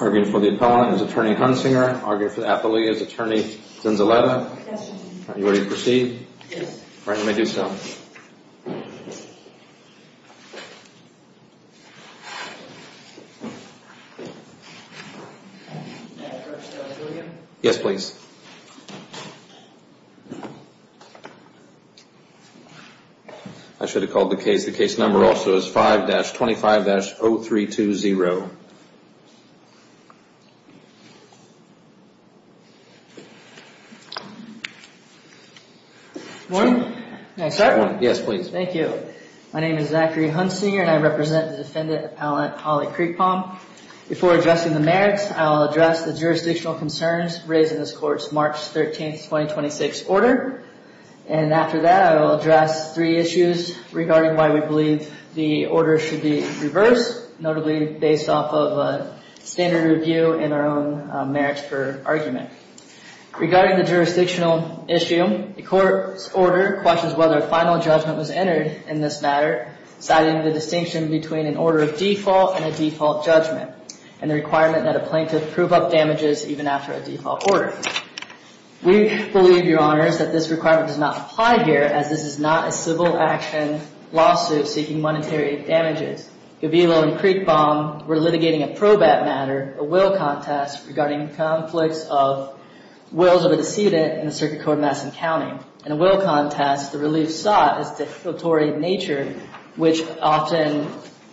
Arguing for the appellant is Attorney Hunsinger. Arguing for the appellee is Attorney Zenziletta. Are you ready to proceed? Yes. All right, let me do so. Yes, please. I should have called the case. The case number also is 5-25-0320. Warren. May I start? Yes, please. Thank you. My name is Zachary Hunsinger and I represent the defendant appellant Holly Creekpaum. Before addressing the merits, I will address the jurisdictional concerns raised in this court's March 13, 2026 order. And after that, I will address three issues regarding why we believe the order should be reversed, notably based off of a standard review and our own merits per argument. Regarding the jurisdictional issue, the court's order questions whether a final judgment was entered in this matter, citing the distinction between an order of default and a default judgment, and the requirement that a plaintiff prove up damages even after a default order. We believe, Your Honors, that this requirement does not apply here, as this is not a civil action lawsuit seeking monetary damages. Gavilo and Creekpaum were litigating a probate matter, a will contest, regarding conflicts of wills of a decedent in the circuit court of Madison County. In a will contest, the relief sought is of a defilatory nature, which often,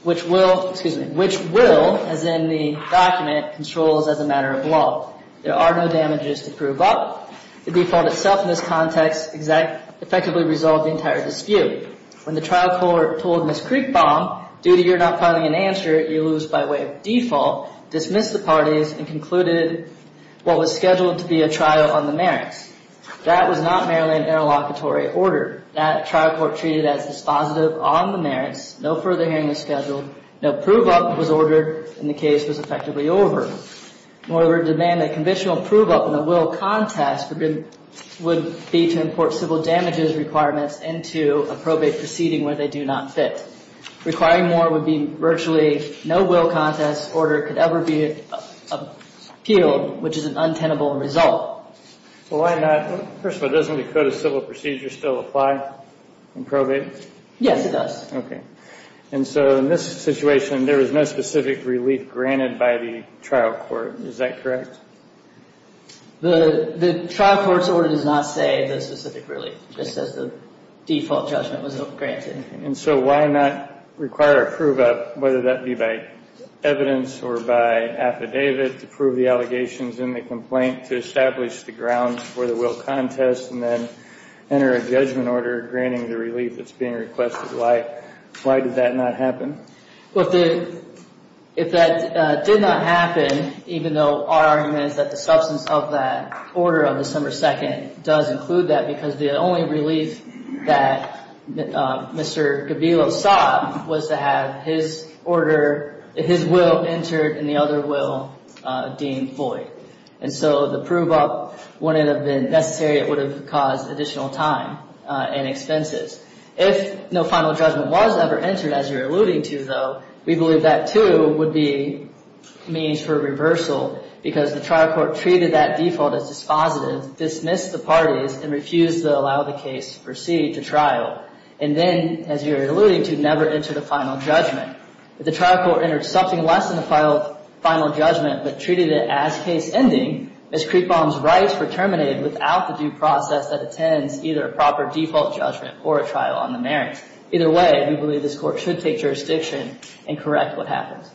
which will, excuse me, which will, as in the document, controls as a matter of law. There are no damages to prove up. The default itself in this context effectively resolved the entire dispute. When the trial court told Ms. Creekpaum, due to your not filing an answer, you lose by way of default, dismissed the parties, and concluded what was scheduled to be a trial on the merits. That was not merely an interlocutory order. That trial court treated as dispositive on the merits. No further hearing was scheduled. No prove up was ordered, and the case was effectively over. In order to demand a conventional prove up in a will contest would be to import civil damages requirements into a probate proceeding where they do not fit. Requiring more would be virtually no will contest order could ever be appealed, which is an untenable result. Well, why not? First of all, doesn't the Code of Civil Procedure still apply in probate? Yes, it does. Okay. And so in this situation, there was no specific relief granted by the trial court. Is that correct? The trial court's order does not say the specific relief. It just says the default judgment was not granted. And so why not require a prove up, whether that be by evidence or by affidavit, to prove the allegations in the complaint, to establish the grounds for the will contest, and then enter a judgment order granting the relief that's being requested? Why did that not happen? Well, if that did not happen, even though our argument is that the substance of that order on December 2nd does include that, because the only relief that Mr. Gabilo sought was to have his order, his will entered in the other will deemed void. And so the prove up wouldn't have been necessary. It would have caused additional time and expenses. If no final judgment was ever entered, as you're alluding to, though, we believe that, too, would be means for reversal, because the trial court treated that default as dispositive, dismissed the parties, and refused to allow the case to proceed to trial. And then, as you're alluding to, never entered a final judgment. If the trial court entered something less than a final judgment, but treated it as case ending, Ms. Kriepbaum's rights were terminated without the due process that attends either a proper default judgment or a trial on the merits. Either way, we believe this court should take jurisdiction and correct what happens.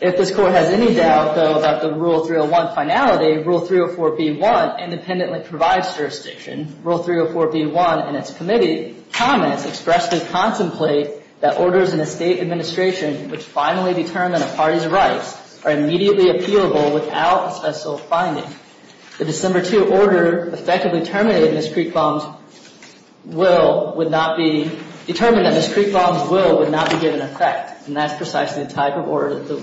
If this court has any doubt, though, about the Rule 301 finality, Rule 304b1 independently provides jurisdiction. Rule 304b1 and its committee comments express the contemplate that orders in a state administration which finally determine a party's rights are immediately appealable without a special finding. The December 2 order effectively terminated Ms. Kriepbaum's will would not be determined that Ms. Kriepbaum's will would not be given effect. And that's precisely the type of order that the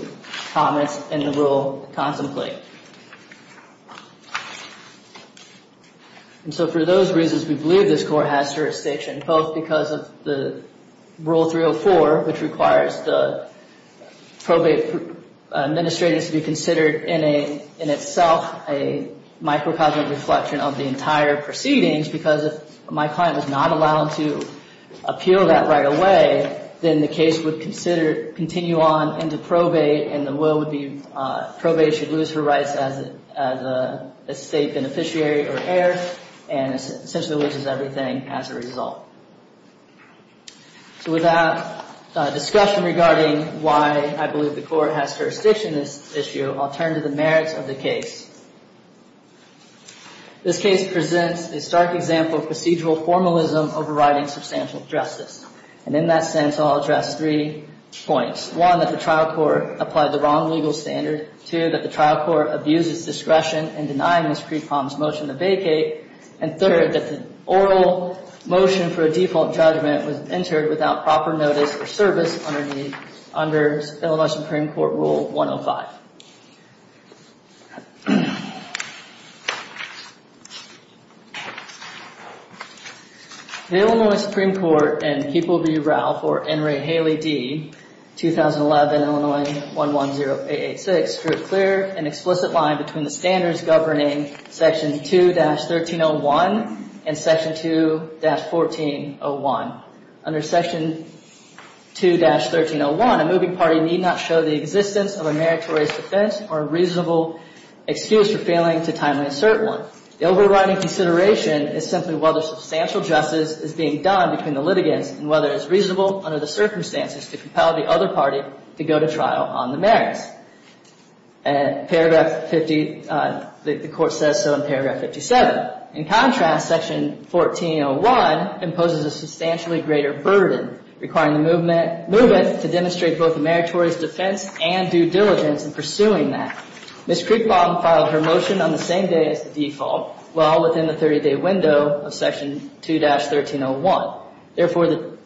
comments in the rule contemplate. And so, for those reasons, we believe this court has jurisdiction, both because of the Rule 304, which requires the probate administrator to be considered in itself a microcosmic reflection of the entire proceedings, because if my client was not allowed to appeal that right away, then the case would continue on into probate, and the will would be probated. She'd lose her rights as a state beneficiary or heir, and essentially loses everything as a result. So without discussion regarding why I believe the court has jurisdiction in this issue, I'll turn to the merits of the case. This case presents a stark example of procedural formalism overriding substantial justice. And in that sense, I'll address three points. One, that the trial court applied the wrong legal standard. Two, that the trial court abuses discretion in denying Ms. Kriepbaum's motion to vacate. And third, that the oral motion for a default judgment was entered without proper notice or service under Illinois Supreme Court Rule 105. The Illinois Supreme Court and People v. Ralph, or Enri Haley D., 2011, Illinois 110886, drew a clear and explicit line between the standards governing Section 2-1301 and Section 2-1401. Under Section 2-1301, a moving party need not show the existence of a merit to raise defense or a reasonable excuse for failing to timely assert one. The overriding consideration is simply whether substantial justice is being done between the litigants and whether it is reasonable under the circumstances to compel the other party to go to trial on the merits. And paragraph 50, the court says so in paragraph 57. In contrast, Section 1401 imposes a substantially greater burden, requiring the movement to demonstrate both a meritorious defense and due diligence in pursuing that. Ms. Kriepbaum filed her motion on the same day as the default, well within the 30-day window of Section 2-1301. Therefore, the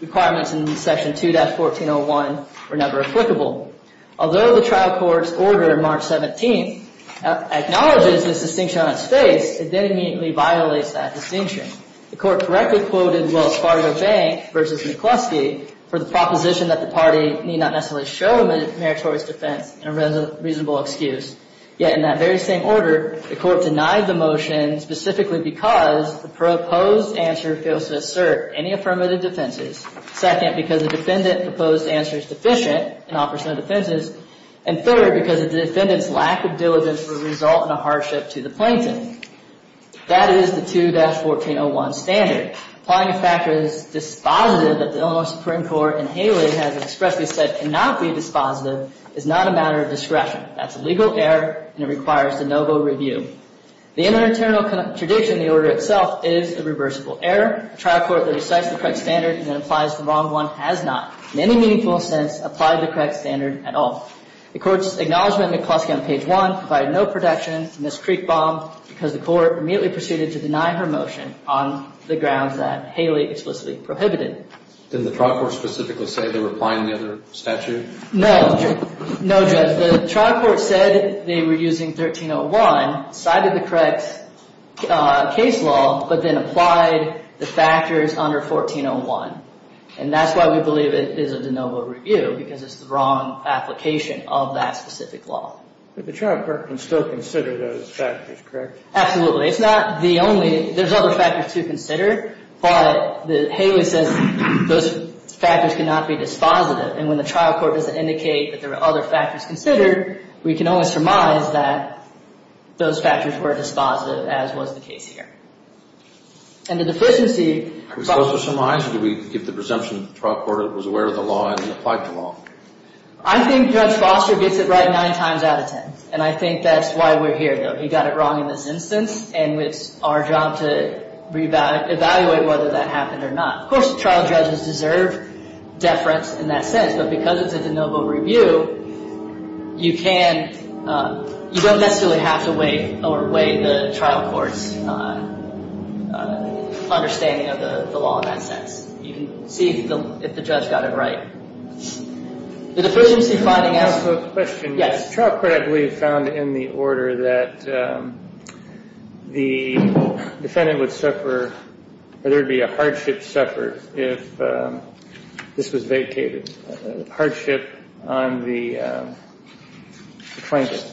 requirements in Section 2-1401 were never applicable. Although the trial court's order in March 17 acknowledges this distinction on its face, it then immediately violates that distinction. The court correctly quoted Wells Fargo Bank v. McCluskey for the proposition that the party need not necessarily show a meritorious defense and a reasonable excuse. Yet in that very same order, the court denied the motion specifically because the proposed answer fails to assert any affirmative defenses. Second, because the defendant proposed answer is deficient and offers no defenses. And third, because the defendant's lack of diligence would result in a hardship to the plaintiff. That is the 2-1401 standard. Applying a factor that is dispositive that the Illinois Supreme Court in Haley has expressly said cannot be dispositive is not a matter of discretion. That's a legal error, and it requires de novo review. The internal tradition in the order itself is a reversible error. A trial court that recites the correct standard and then applies the wrong one has not, in any meaningful sense, applied the correct standard at all. The court's acknowledgment of McCluskey on page 1 provided no protection. Ms. Creekbaum, because the court immediately proceeded to deny her motion on the grounds that Haley explicitly prohibited. Didn't the trial court specifically say they were applying the other statute? No, Judge. The trial court said they were using 13-01, cited the correct case law, but then applied the factors under 14-01. And that's why we believe it is a de novo review, because it's the wrong application of that specific law. But the trial court can still consider those factors, correct? Absolutely. It's not the only. There's other factors to consider, but Haley says those factors cannot be dispositive. And when the trial court doesn't indicate that there are other factors considered, we can only surmise that those factors were dispositive, as was the case here. And the deficiency. Are we supposed to surmise, or do we give the presumption that the trial court was aware of the law and applied the law? I think Judge Foster gets it right nine times out of ten. And I think that's why we're here, though. He got it wrong in this instance, and it's our job to evaluate whether that happened or not. Of course, trial judges deserve deference in that sense, but because it's a de novo review, you don't necessarily have to weigh the trial court's understanding of the law in that sense. You can see if the judge got it right. The deficiency finding asks a question. The trial court, I believe, found in the order that the defendant would suffer or there would be a hardship suffered if this was vacated. Hardship on the trinket.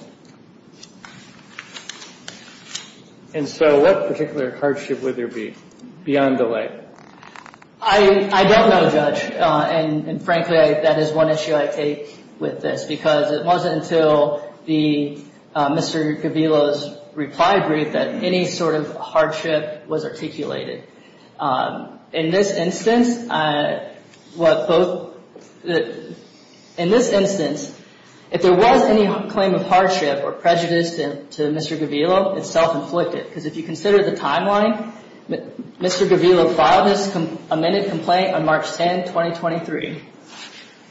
And so what particular hardship would there be beyond the leg? I don't know, Judge. And frankly, that is one issue I take with this, because it wasn't until Mr. Gavilo's reply brief that any sort of hardship was articulated. In this instance, if there was any claim of hardship or prejudice to Mr. Gavilo, it's self-inflicted. Because if you consider the timeline, Mr. Gavilo filed this amended complaint on March 10, 2023.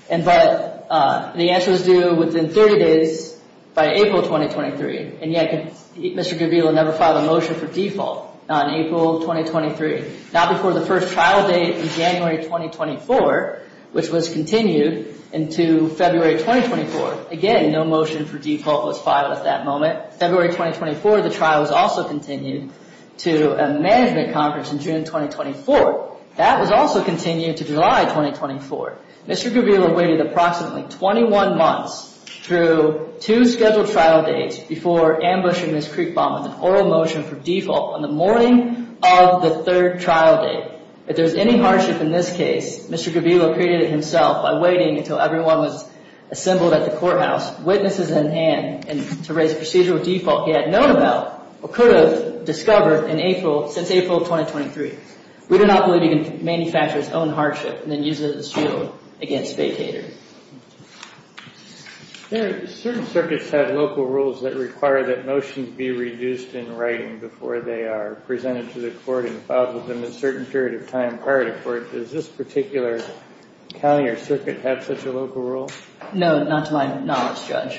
But the answer was due within 30 days, by April 2023. And yet, Mr. Gavilo never filed a motion for default on April 2023. Not before the first trial date in January 2024, which was continued into February 2024. Again, no motion for default was filed at that moment. February 2024, the trial was also continued to a management conference in June 2024. That was also continued to July 2024. Mr. Gavilo waited approximately 21 months through two scheduled trial dates before ambushing this creek bomb with an oral motion for default on the morning of the third trial date. If there's any hardship in this case, Mr. Gavilo created it himself by waiting until everyone was assembled at the courthouse, witnesses in hand, and to raise a procedural default he had known about or could have discovered since April 2023. We do not believe he can manufacture his own hardship and then use it as a shield against vacators. There are certain circuits that have local rules that require that motions be reduced in writing before they are presented to the court and filed within a certain period of time prior to court. Does this particular county or circuit have such a local rule? No, not to my knowledge, Judge.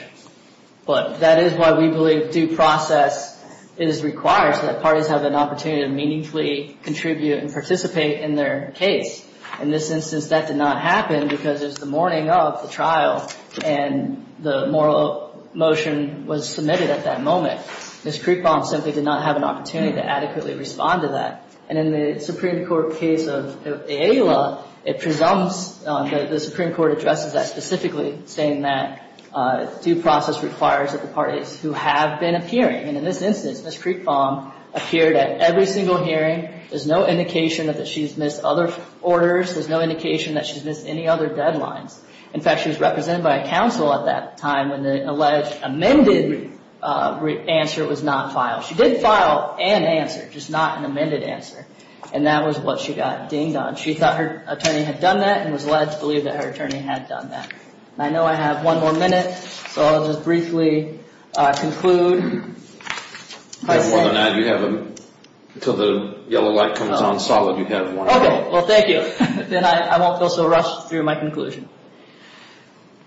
But that is why we believe due process is required so that parties have an opportunity to meaningfully contribute and participate in their case. In this instance, that did not happen because it was the morning of the trial and the moral motion was submitted at that moment. This creek bomb simply did not have an opportunity to adequately respond to that. And in the Supreme Court case of Ayala, it presumes, the Supreme Court addresses that specifically, saying that due process requires that the parties who have been appearing, and in this instance, Ms. Creekbaum appeared at every single hearing. There's no indication that she's missed other orders. There's no indication that she's missed any other deadlines. In fact, she was represented by a counsel at that time when the alleged amended answer was not filed. She did file an answer, just not an amended answer. And that was what she got dinged on. She thought her attorney had done that and was led to believe that her attorney had done that. I know I have one more minute, so I'll just briefly conclude. I have more than that. Until the yellow light comes on solid, you have one. Okay, well, thank you. Then I won't feel so rushed through my conclusion.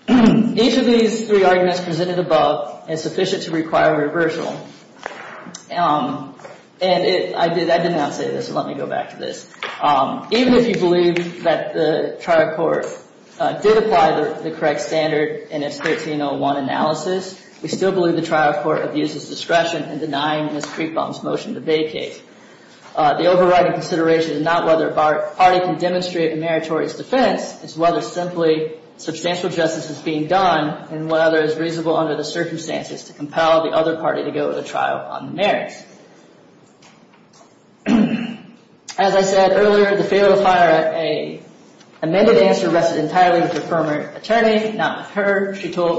Each of these three arguments presented above is sufficient to require reversal. And I did not say this, so let me go back to this. Even if you believe that the trial court did apply the correct standard in its 1301 analysis, we still believe the trial court abuses discretion in denying Ms. Creekbaum's motion to vacate. The overriding consideration is not whether a party can demonstrate a meritorious defense. It's whether simply substantial justice is being done and whether it's reasonable under the circumstances to compel the other party to go to trial on the merits. As I said earlier, the failure to file an amended answer rested entirely with her former attorney, not with her.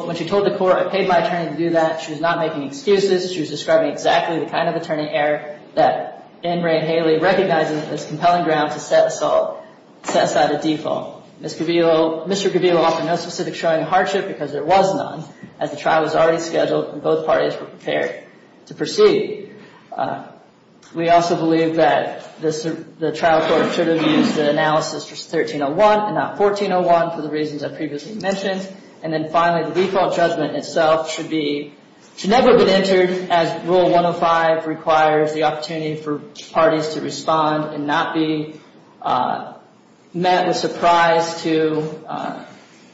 When she told the court, I paid my attorney to do that, she was not making excuses. She was describing exactly the kind of attorney error that Ingray and Haley recognized as compelling ground to set aside a default. Mr. Caviello offered no specific showing of hardship because there was none, as the trial was already scheduled and both parties were prepared to proceed. We also believe that the trial court should have used the analysis for 1301 and not 1401 for the reasons I previously mentioned. And then finally, the default judgment itself should never have been entered as Rule 105 requires the opportunity for parties to respond and not be met with surprise to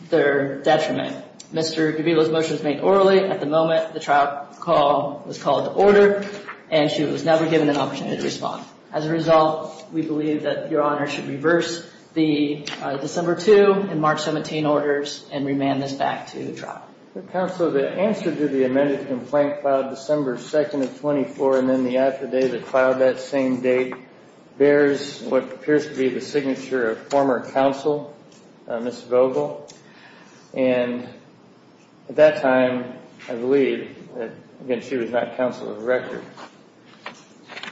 their detriment. Mr. Caviello's motion was made orally. At the moment, the trial call was called to order, and she was never given an opportunity to respond. As a result, we believe that Your Honor should reverse the December 2 and March 17 orders and remand this back to the trial. Counsel, the answer to the amended complaint filed December 2nd of 24 and then the affidavit filed that same date bears what appears to be the signature of former counsel, Ms. Vogel. And at that time, I believe, again, she was not counsel of the record.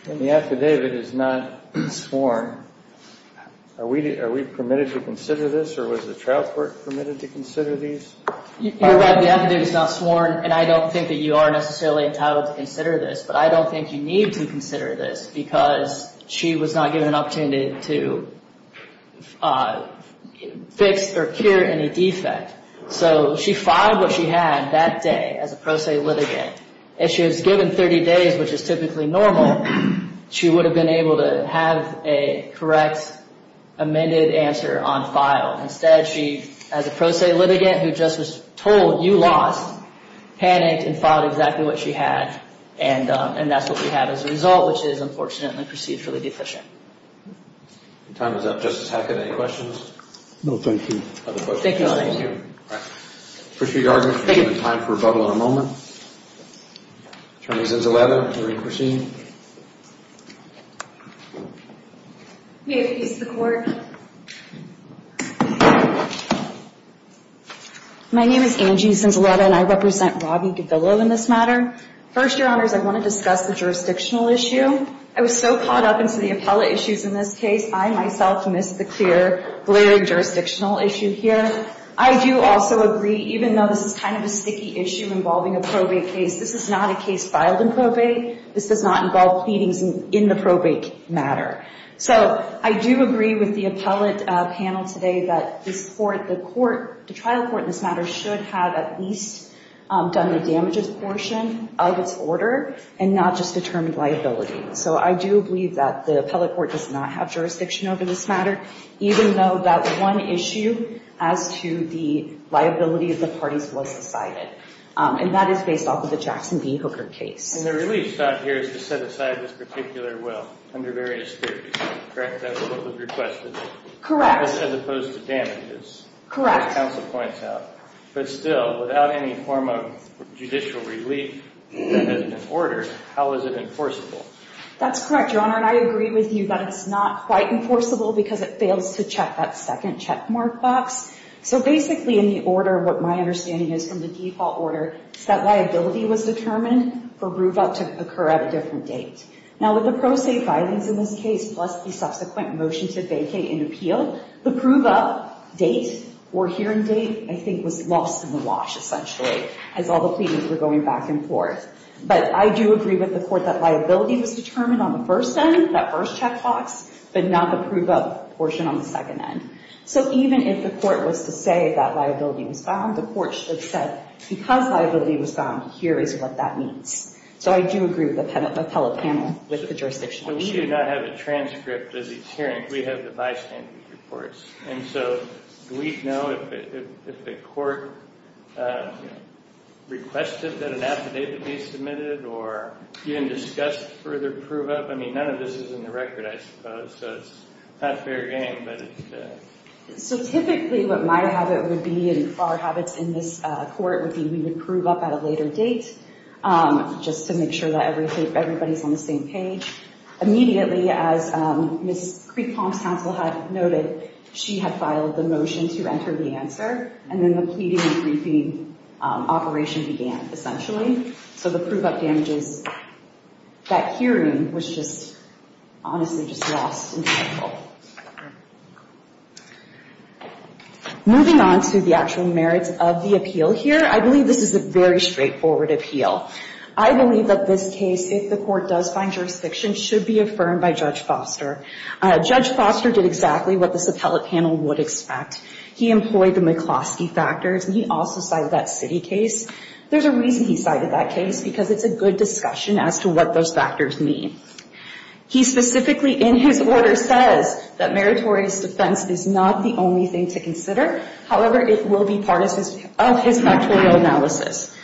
And the affidavit is not sworn. Are we permitted to consider this, or was the trial court permitted to consider these? Your Honor, the affidavit is not sworn, and I don't think that you are necessarily entitled to consider this, but I don't think you need to consider this because she was not given an opportunity to fix or cure any defect. So she filed what she had that day as a pro se litigant. If she was given 30 days, which is typically normal, she would have been able to have a correct amended answer on file. Instead, she, as a pro se litigant who just was told, you lost, panicked and filed exactly what she had, and that's what we have as a result, which is, unfortunately, procedurally deficient. Your time is up. Justice Hackett, any questions? No, thank you. Other questions? No, thank you. Appreciate your argument. Thank you. We have time for rebuttal in a moment. Attorney Zinzaletta, will you proceed? May it please the Court. My name is Angie Zinzaletta, and I represent Robby Gavillo in this matter. First, Your Honors, I want to discuss the jurisdictional issue. I was so caught up in some of the appellate issues in this case, I, myself, missed the clear, blaring jurisdictional issue here. I do also agree, even though this is kind of a sticky issue involving a probate case, this is not a case filed in probate. This does not involve pleadings in the probate matter. So I do agree with the appellate panel today that this Court, the trial court in this matter, should have at least done the damages portion of its order and not just determined liability. So I do believe that the appellate court does not have jurisdiction over this matter, even though that one issue as to the liability of the parties was decided. And that is based off of the Jackson v. Hooker case. And the relief thought here is to set aside this particular will under various theories, correct? That's what was requested. Correct. As opposed to damages. Correct. As counsel points out. But still, without any form of judicial relief that has been ordered, how is it enforceable? That's correct, Your Honor. And I agree with you that it's not quite enforceable because it fails to check that second checkmark box. So basically in the order, what my understanding is from the default order, is that liability was determined for prove-up to occur at a different date. Now, with the pro se filings in this case, plus the subsequent motion to vacate an appeal, the prove-up date or hearing date, I think, was lost in the wash, essentially, as all the pleadings were going back and forth. But I do agree with the court that liability was determined on the first end, that first checkbox, but not the prove-up portion on the second end. So even if the court was to say that liability was found, the court should have said, because liability was found, here is what that means. So I do agree with the appellate panel with the jurisdiction issue. So we do not have a transcript of these hearings. We have the bystander reports. And so do we know if the court requested that an affidavit be submitted or even discussed further prove-up? I mean, none of this is in the record, I suppose, so it's not fair game. So typically what my habit would be and our habits in this court would be we would prove-up at a later date, just to make sure that everybody is on the same page. Immediately, as Ms. Creek-Palms-Council had noted, she had filed the motion to enter the answer, and then the pleading and briefing operation began, essentially. So the prove-up damages, that hearing was just, honestly, just lost. Moving on to the actual merits of the appeal here, I believe this is a very straightforward appeal. I believe that this case, if the court does find jurisdiction, should be affirmed by Judge Foster. Judge Foster did exactly what this appellate panel would expect. He employed the McCloskey factors, and he also cited that city case. There's a reason he cited that case, because it's a good discussion as to what those factors mean. He specifically, in his order, says that meritorious defense is not the only thing to consider. However, it will be part of his factorial analysis.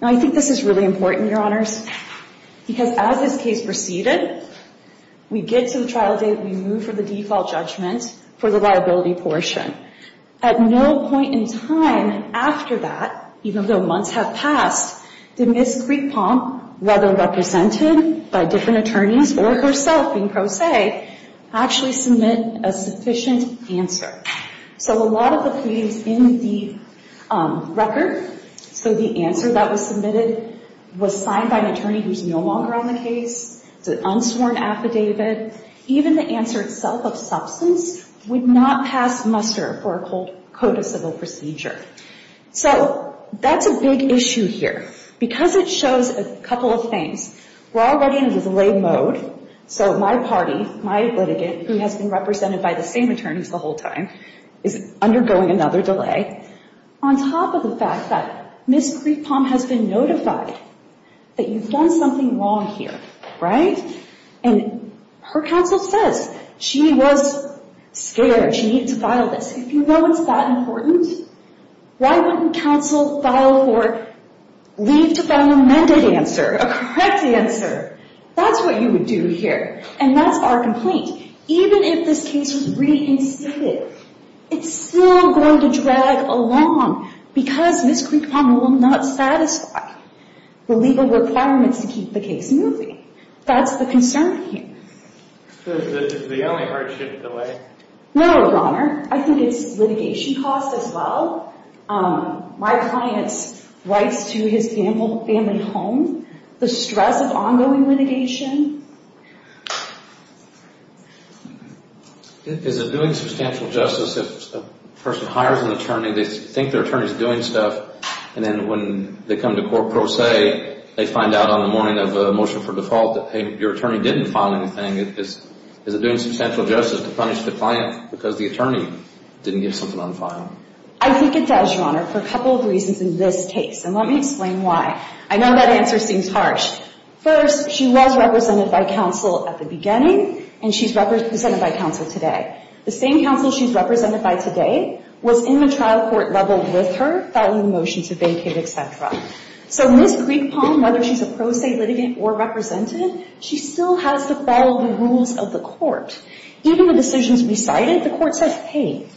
Now, I think this is really important, Your Honors, because as this case proceeded, we get to the trial date, we move for the default judgment for the liability portion. At no point in time after that, even though months have passed, did Ms. Creek-Palms, whether represented by different attorneys or herself being pro se, actually submit a sufficient answer. So a lot of the pleadings in the record, so the answer that was submitted, was signed by an attorney who's no longer on the case. It's an unsworn affidavit. Even the answer itself of substance would not pass muster for a code of civil procedure. So that's a big issue here, because it shows a couple of things. We're already in a delay mode, so my party, my litigant, who has been represented by the same attorneys the whole time, is undergoing another delay. On top of the fact that Ms. Creek-Palms has been notified that you've done something wrong here, right? And her counsel says she was scared, she needed to file this. If you know it's that important, why wouldn't counsel file for leave to file an amended answer, a correct answer? That's what you would do here, and that's our complaint. Even if this case was reinstated, it's still going to drag along, because Ms. Creek-Palms will not satisfy the legal requirements to keep the case moving. That's the concern here. So this is the only hardship delay? No, Your Honor. I think it's litigation costs as well. My client writes to his gamble family home, the stress of ongoing litigation. Is it doing substantial justice if a person hires an attorney, they think their attorney is doing stuff, and then when they come to court pro se, they find out on the morning of a motion for default that, hey, your attorney didn't file anything. Is it doing substantial justice to punish the client because the attorney didn't get something on file? I think it does, Your Honor, for a couple of reasons in this case, and let me explain why. I know that answer seems harsh. First, she was represented by counsel at the beginning, and she's represented by counsel today. The same counsel she's represented by today was in the trial court level with her, filed a motion to vacate, et cetera. So Ms. Creek-Palms, whether she's a pro se litigant or representative, she still has to follow the rules of the court. Even with decisions recited, the court says, hey,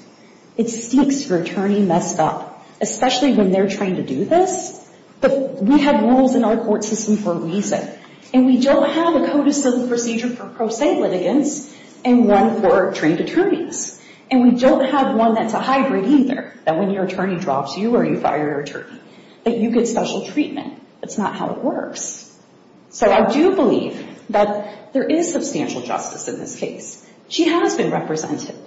it stinks. Your attorney messed up, especially when they're trying to do this. But we have rules in our court system for a reason, and we don't have a code of civil procedure for pro se litigants and one for trained attorneys. And we don't have one that's a hybrid either, that when your attorney drops you or you fire your attorney, that you get special treatment. That's not how it works. So I do believe that there is substantial justice in this case. She has been represented.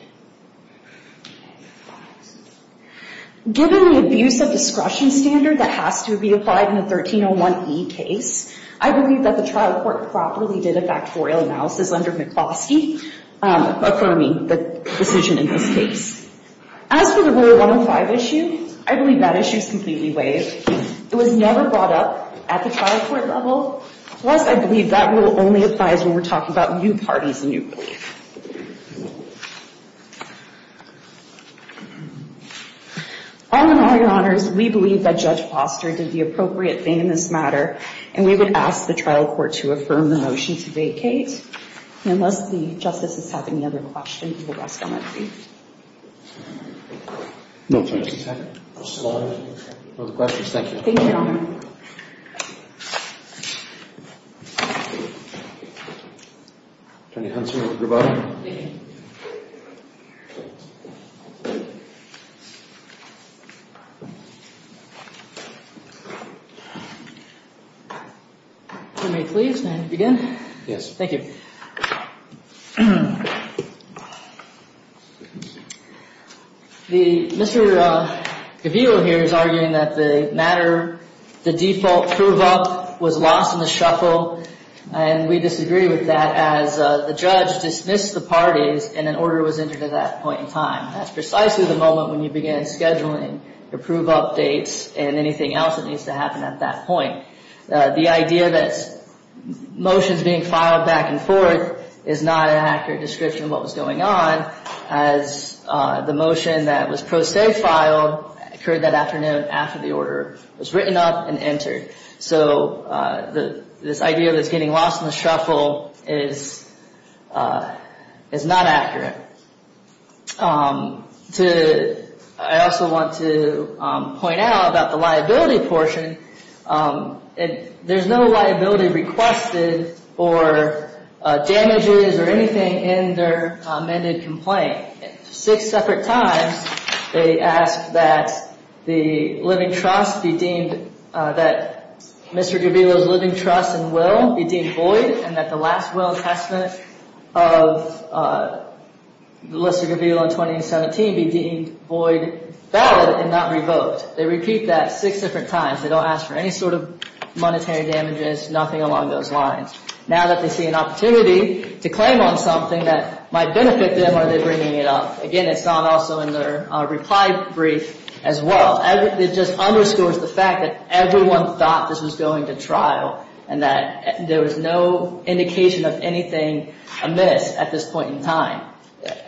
Given the abuse of discretion standard that has to be applied in a 1301E case, I believe that the trial court properly did a factorial analysis under McFoskey, affirming the decision in this case. As for the Rule 105 issue, I believe that issue is completely waived. It was never brought up at the trial court level. Plus, I believe that rule only applies when we're talking about new parties and new relief. All in all, Your Honors, we believe that Judge Foster did the appropriate thing in this matter, and we would ask the trial court to affirm the motion to vacate. Unless the justices have any other questions, we will rest on that brief. No questions at this time. Other questions? Thank you. Thank you, Your Honor. Attorney Huntsman, you're good to go. If you may please, may I begin? Yes. Thank you. Mr. Cavillo here is arguing that the matter, the default prove-up was lost in the shuffle, and we disagree with that as the judge dismissed the parties and an order was entered at that point in time. That's precisely the moment when you begin scheduling your prove-up dates and anything else that needs to happen at that point. The idea that motions being filed back and forth is not an accurate description of what was going on as the motion that was pro se filed occurred that afternoon after the order was written up and entered. So this idea that it's getting lost in the shuffle is not accurate. I also want to point out about the liability portion. There's no liability requested for damages or anything in their amended complaint. Six separate times they asked that the living trust be deemed, that Mr. Cavillo's living trust and will be deemed void and that the last will and testament of Melissa Cavillo in 2017 be deemed void, valid, and not revoked. They repeat that six different times. They don't ask for any sort of monetary damages, nothing along those lines. Now that they see an opportunity to claim on something that might benefit them, are they bringing it up? Again, it's not also in their reply brief as well. It just underscores the fact that everyone thought this was going to trial and that there was no indication of anything amiss at this point in time.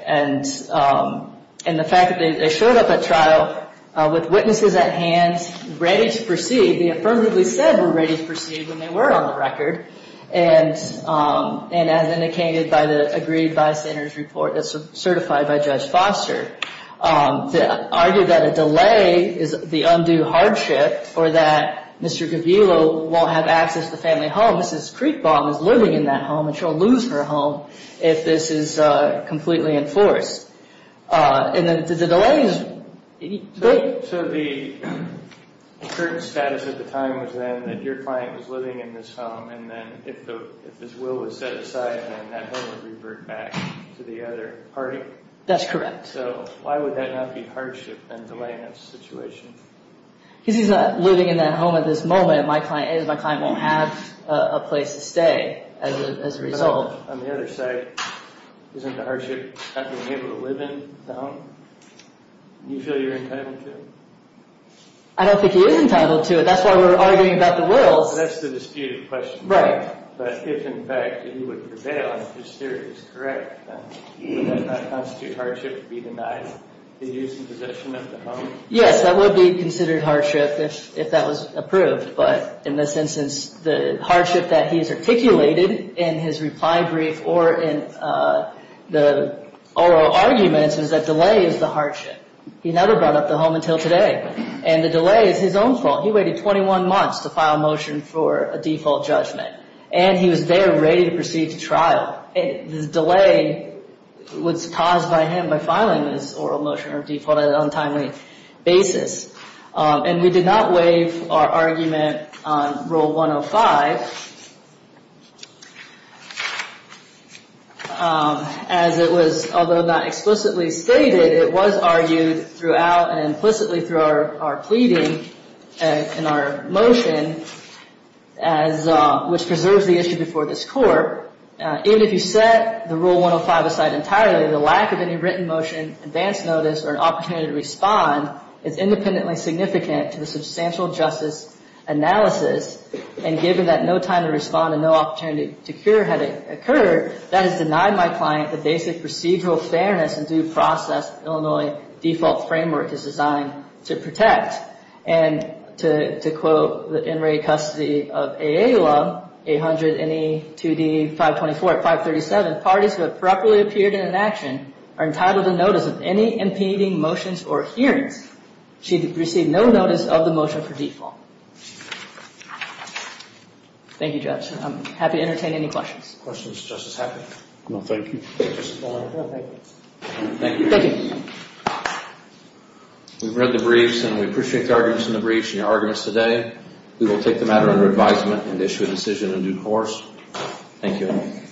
And the fact that they showed up at trial with witnesses at hand ready to proceed, they affirmatively said were ready to proceed when they were on the record. And as indicated by the agreed by sinners report that's certified by Judge Foster, to argue that a delay is the undue hardship or that Mr. Cavillo won't have access to the family home, Mrs. Kriegbaum is living in that home and she'll lose her home if this is completely enforced. And the delay is big. So the current status at the time was then that your client was living in this home and then if this will was set aside then that home would revert back to the other party? That's correct. So why would that not be hardship and delay in this situation? Because he's not living in that home at this moment. My client is. My client won't have a place to stay as a result. But on the other side, isn't the hardship not being able to live in the home? Do you feel you're entitled to it? I don't think he is entitled to it. That's why we're arguing about the wills. That's the disputed question. Right. But if in fact he would prevail and if his theory is correct, then would that not constitute hardship to be denied the use and possession of the home? Yes, that would be considered hardship if that was approved. But in this instance, the hardship that he's articulated in his reply brief or in the oral arguments is that delay is the hardship. He never brought up the home until today. And the delay is his own fault. He waited 21 months to file a motion for a default judgment. And he was there ready to proceed to trial. This delay was caused by him by filing this oral motion or default on an untimely basis. And we did not waive our argument on Rule 105. As it was, although not explicitly stated, it was argued throughout and implicitly through our pleading and our motion, which preserves the issue before this court. Even if you set the Rule 105 aside entirely, the lack of any written motion, advance notice, or an opportunity to respond is independently significant to the substantial justice analysis. And given that no time to respond and no opportunity to cure had occurred, that has denied my client the basic procedural fairness and due process Illinois default framework is designed to protect. And to quote the in-rate custody of AA law, 800 NE 2D 524 at 537, parties who have properly appeared in an action are entitled to notice of any impeding motions or hearings. She received no notice of the motion for default. Thank you, Judge. I'm happy to entertain any questions. Questions, Justice Hackett? No, thank you. Thank you. We've read the briefs and we appreciate the arguments in the briefs and your arguments today. We will take the matter under advisement and issue a decision in due course. Thank you.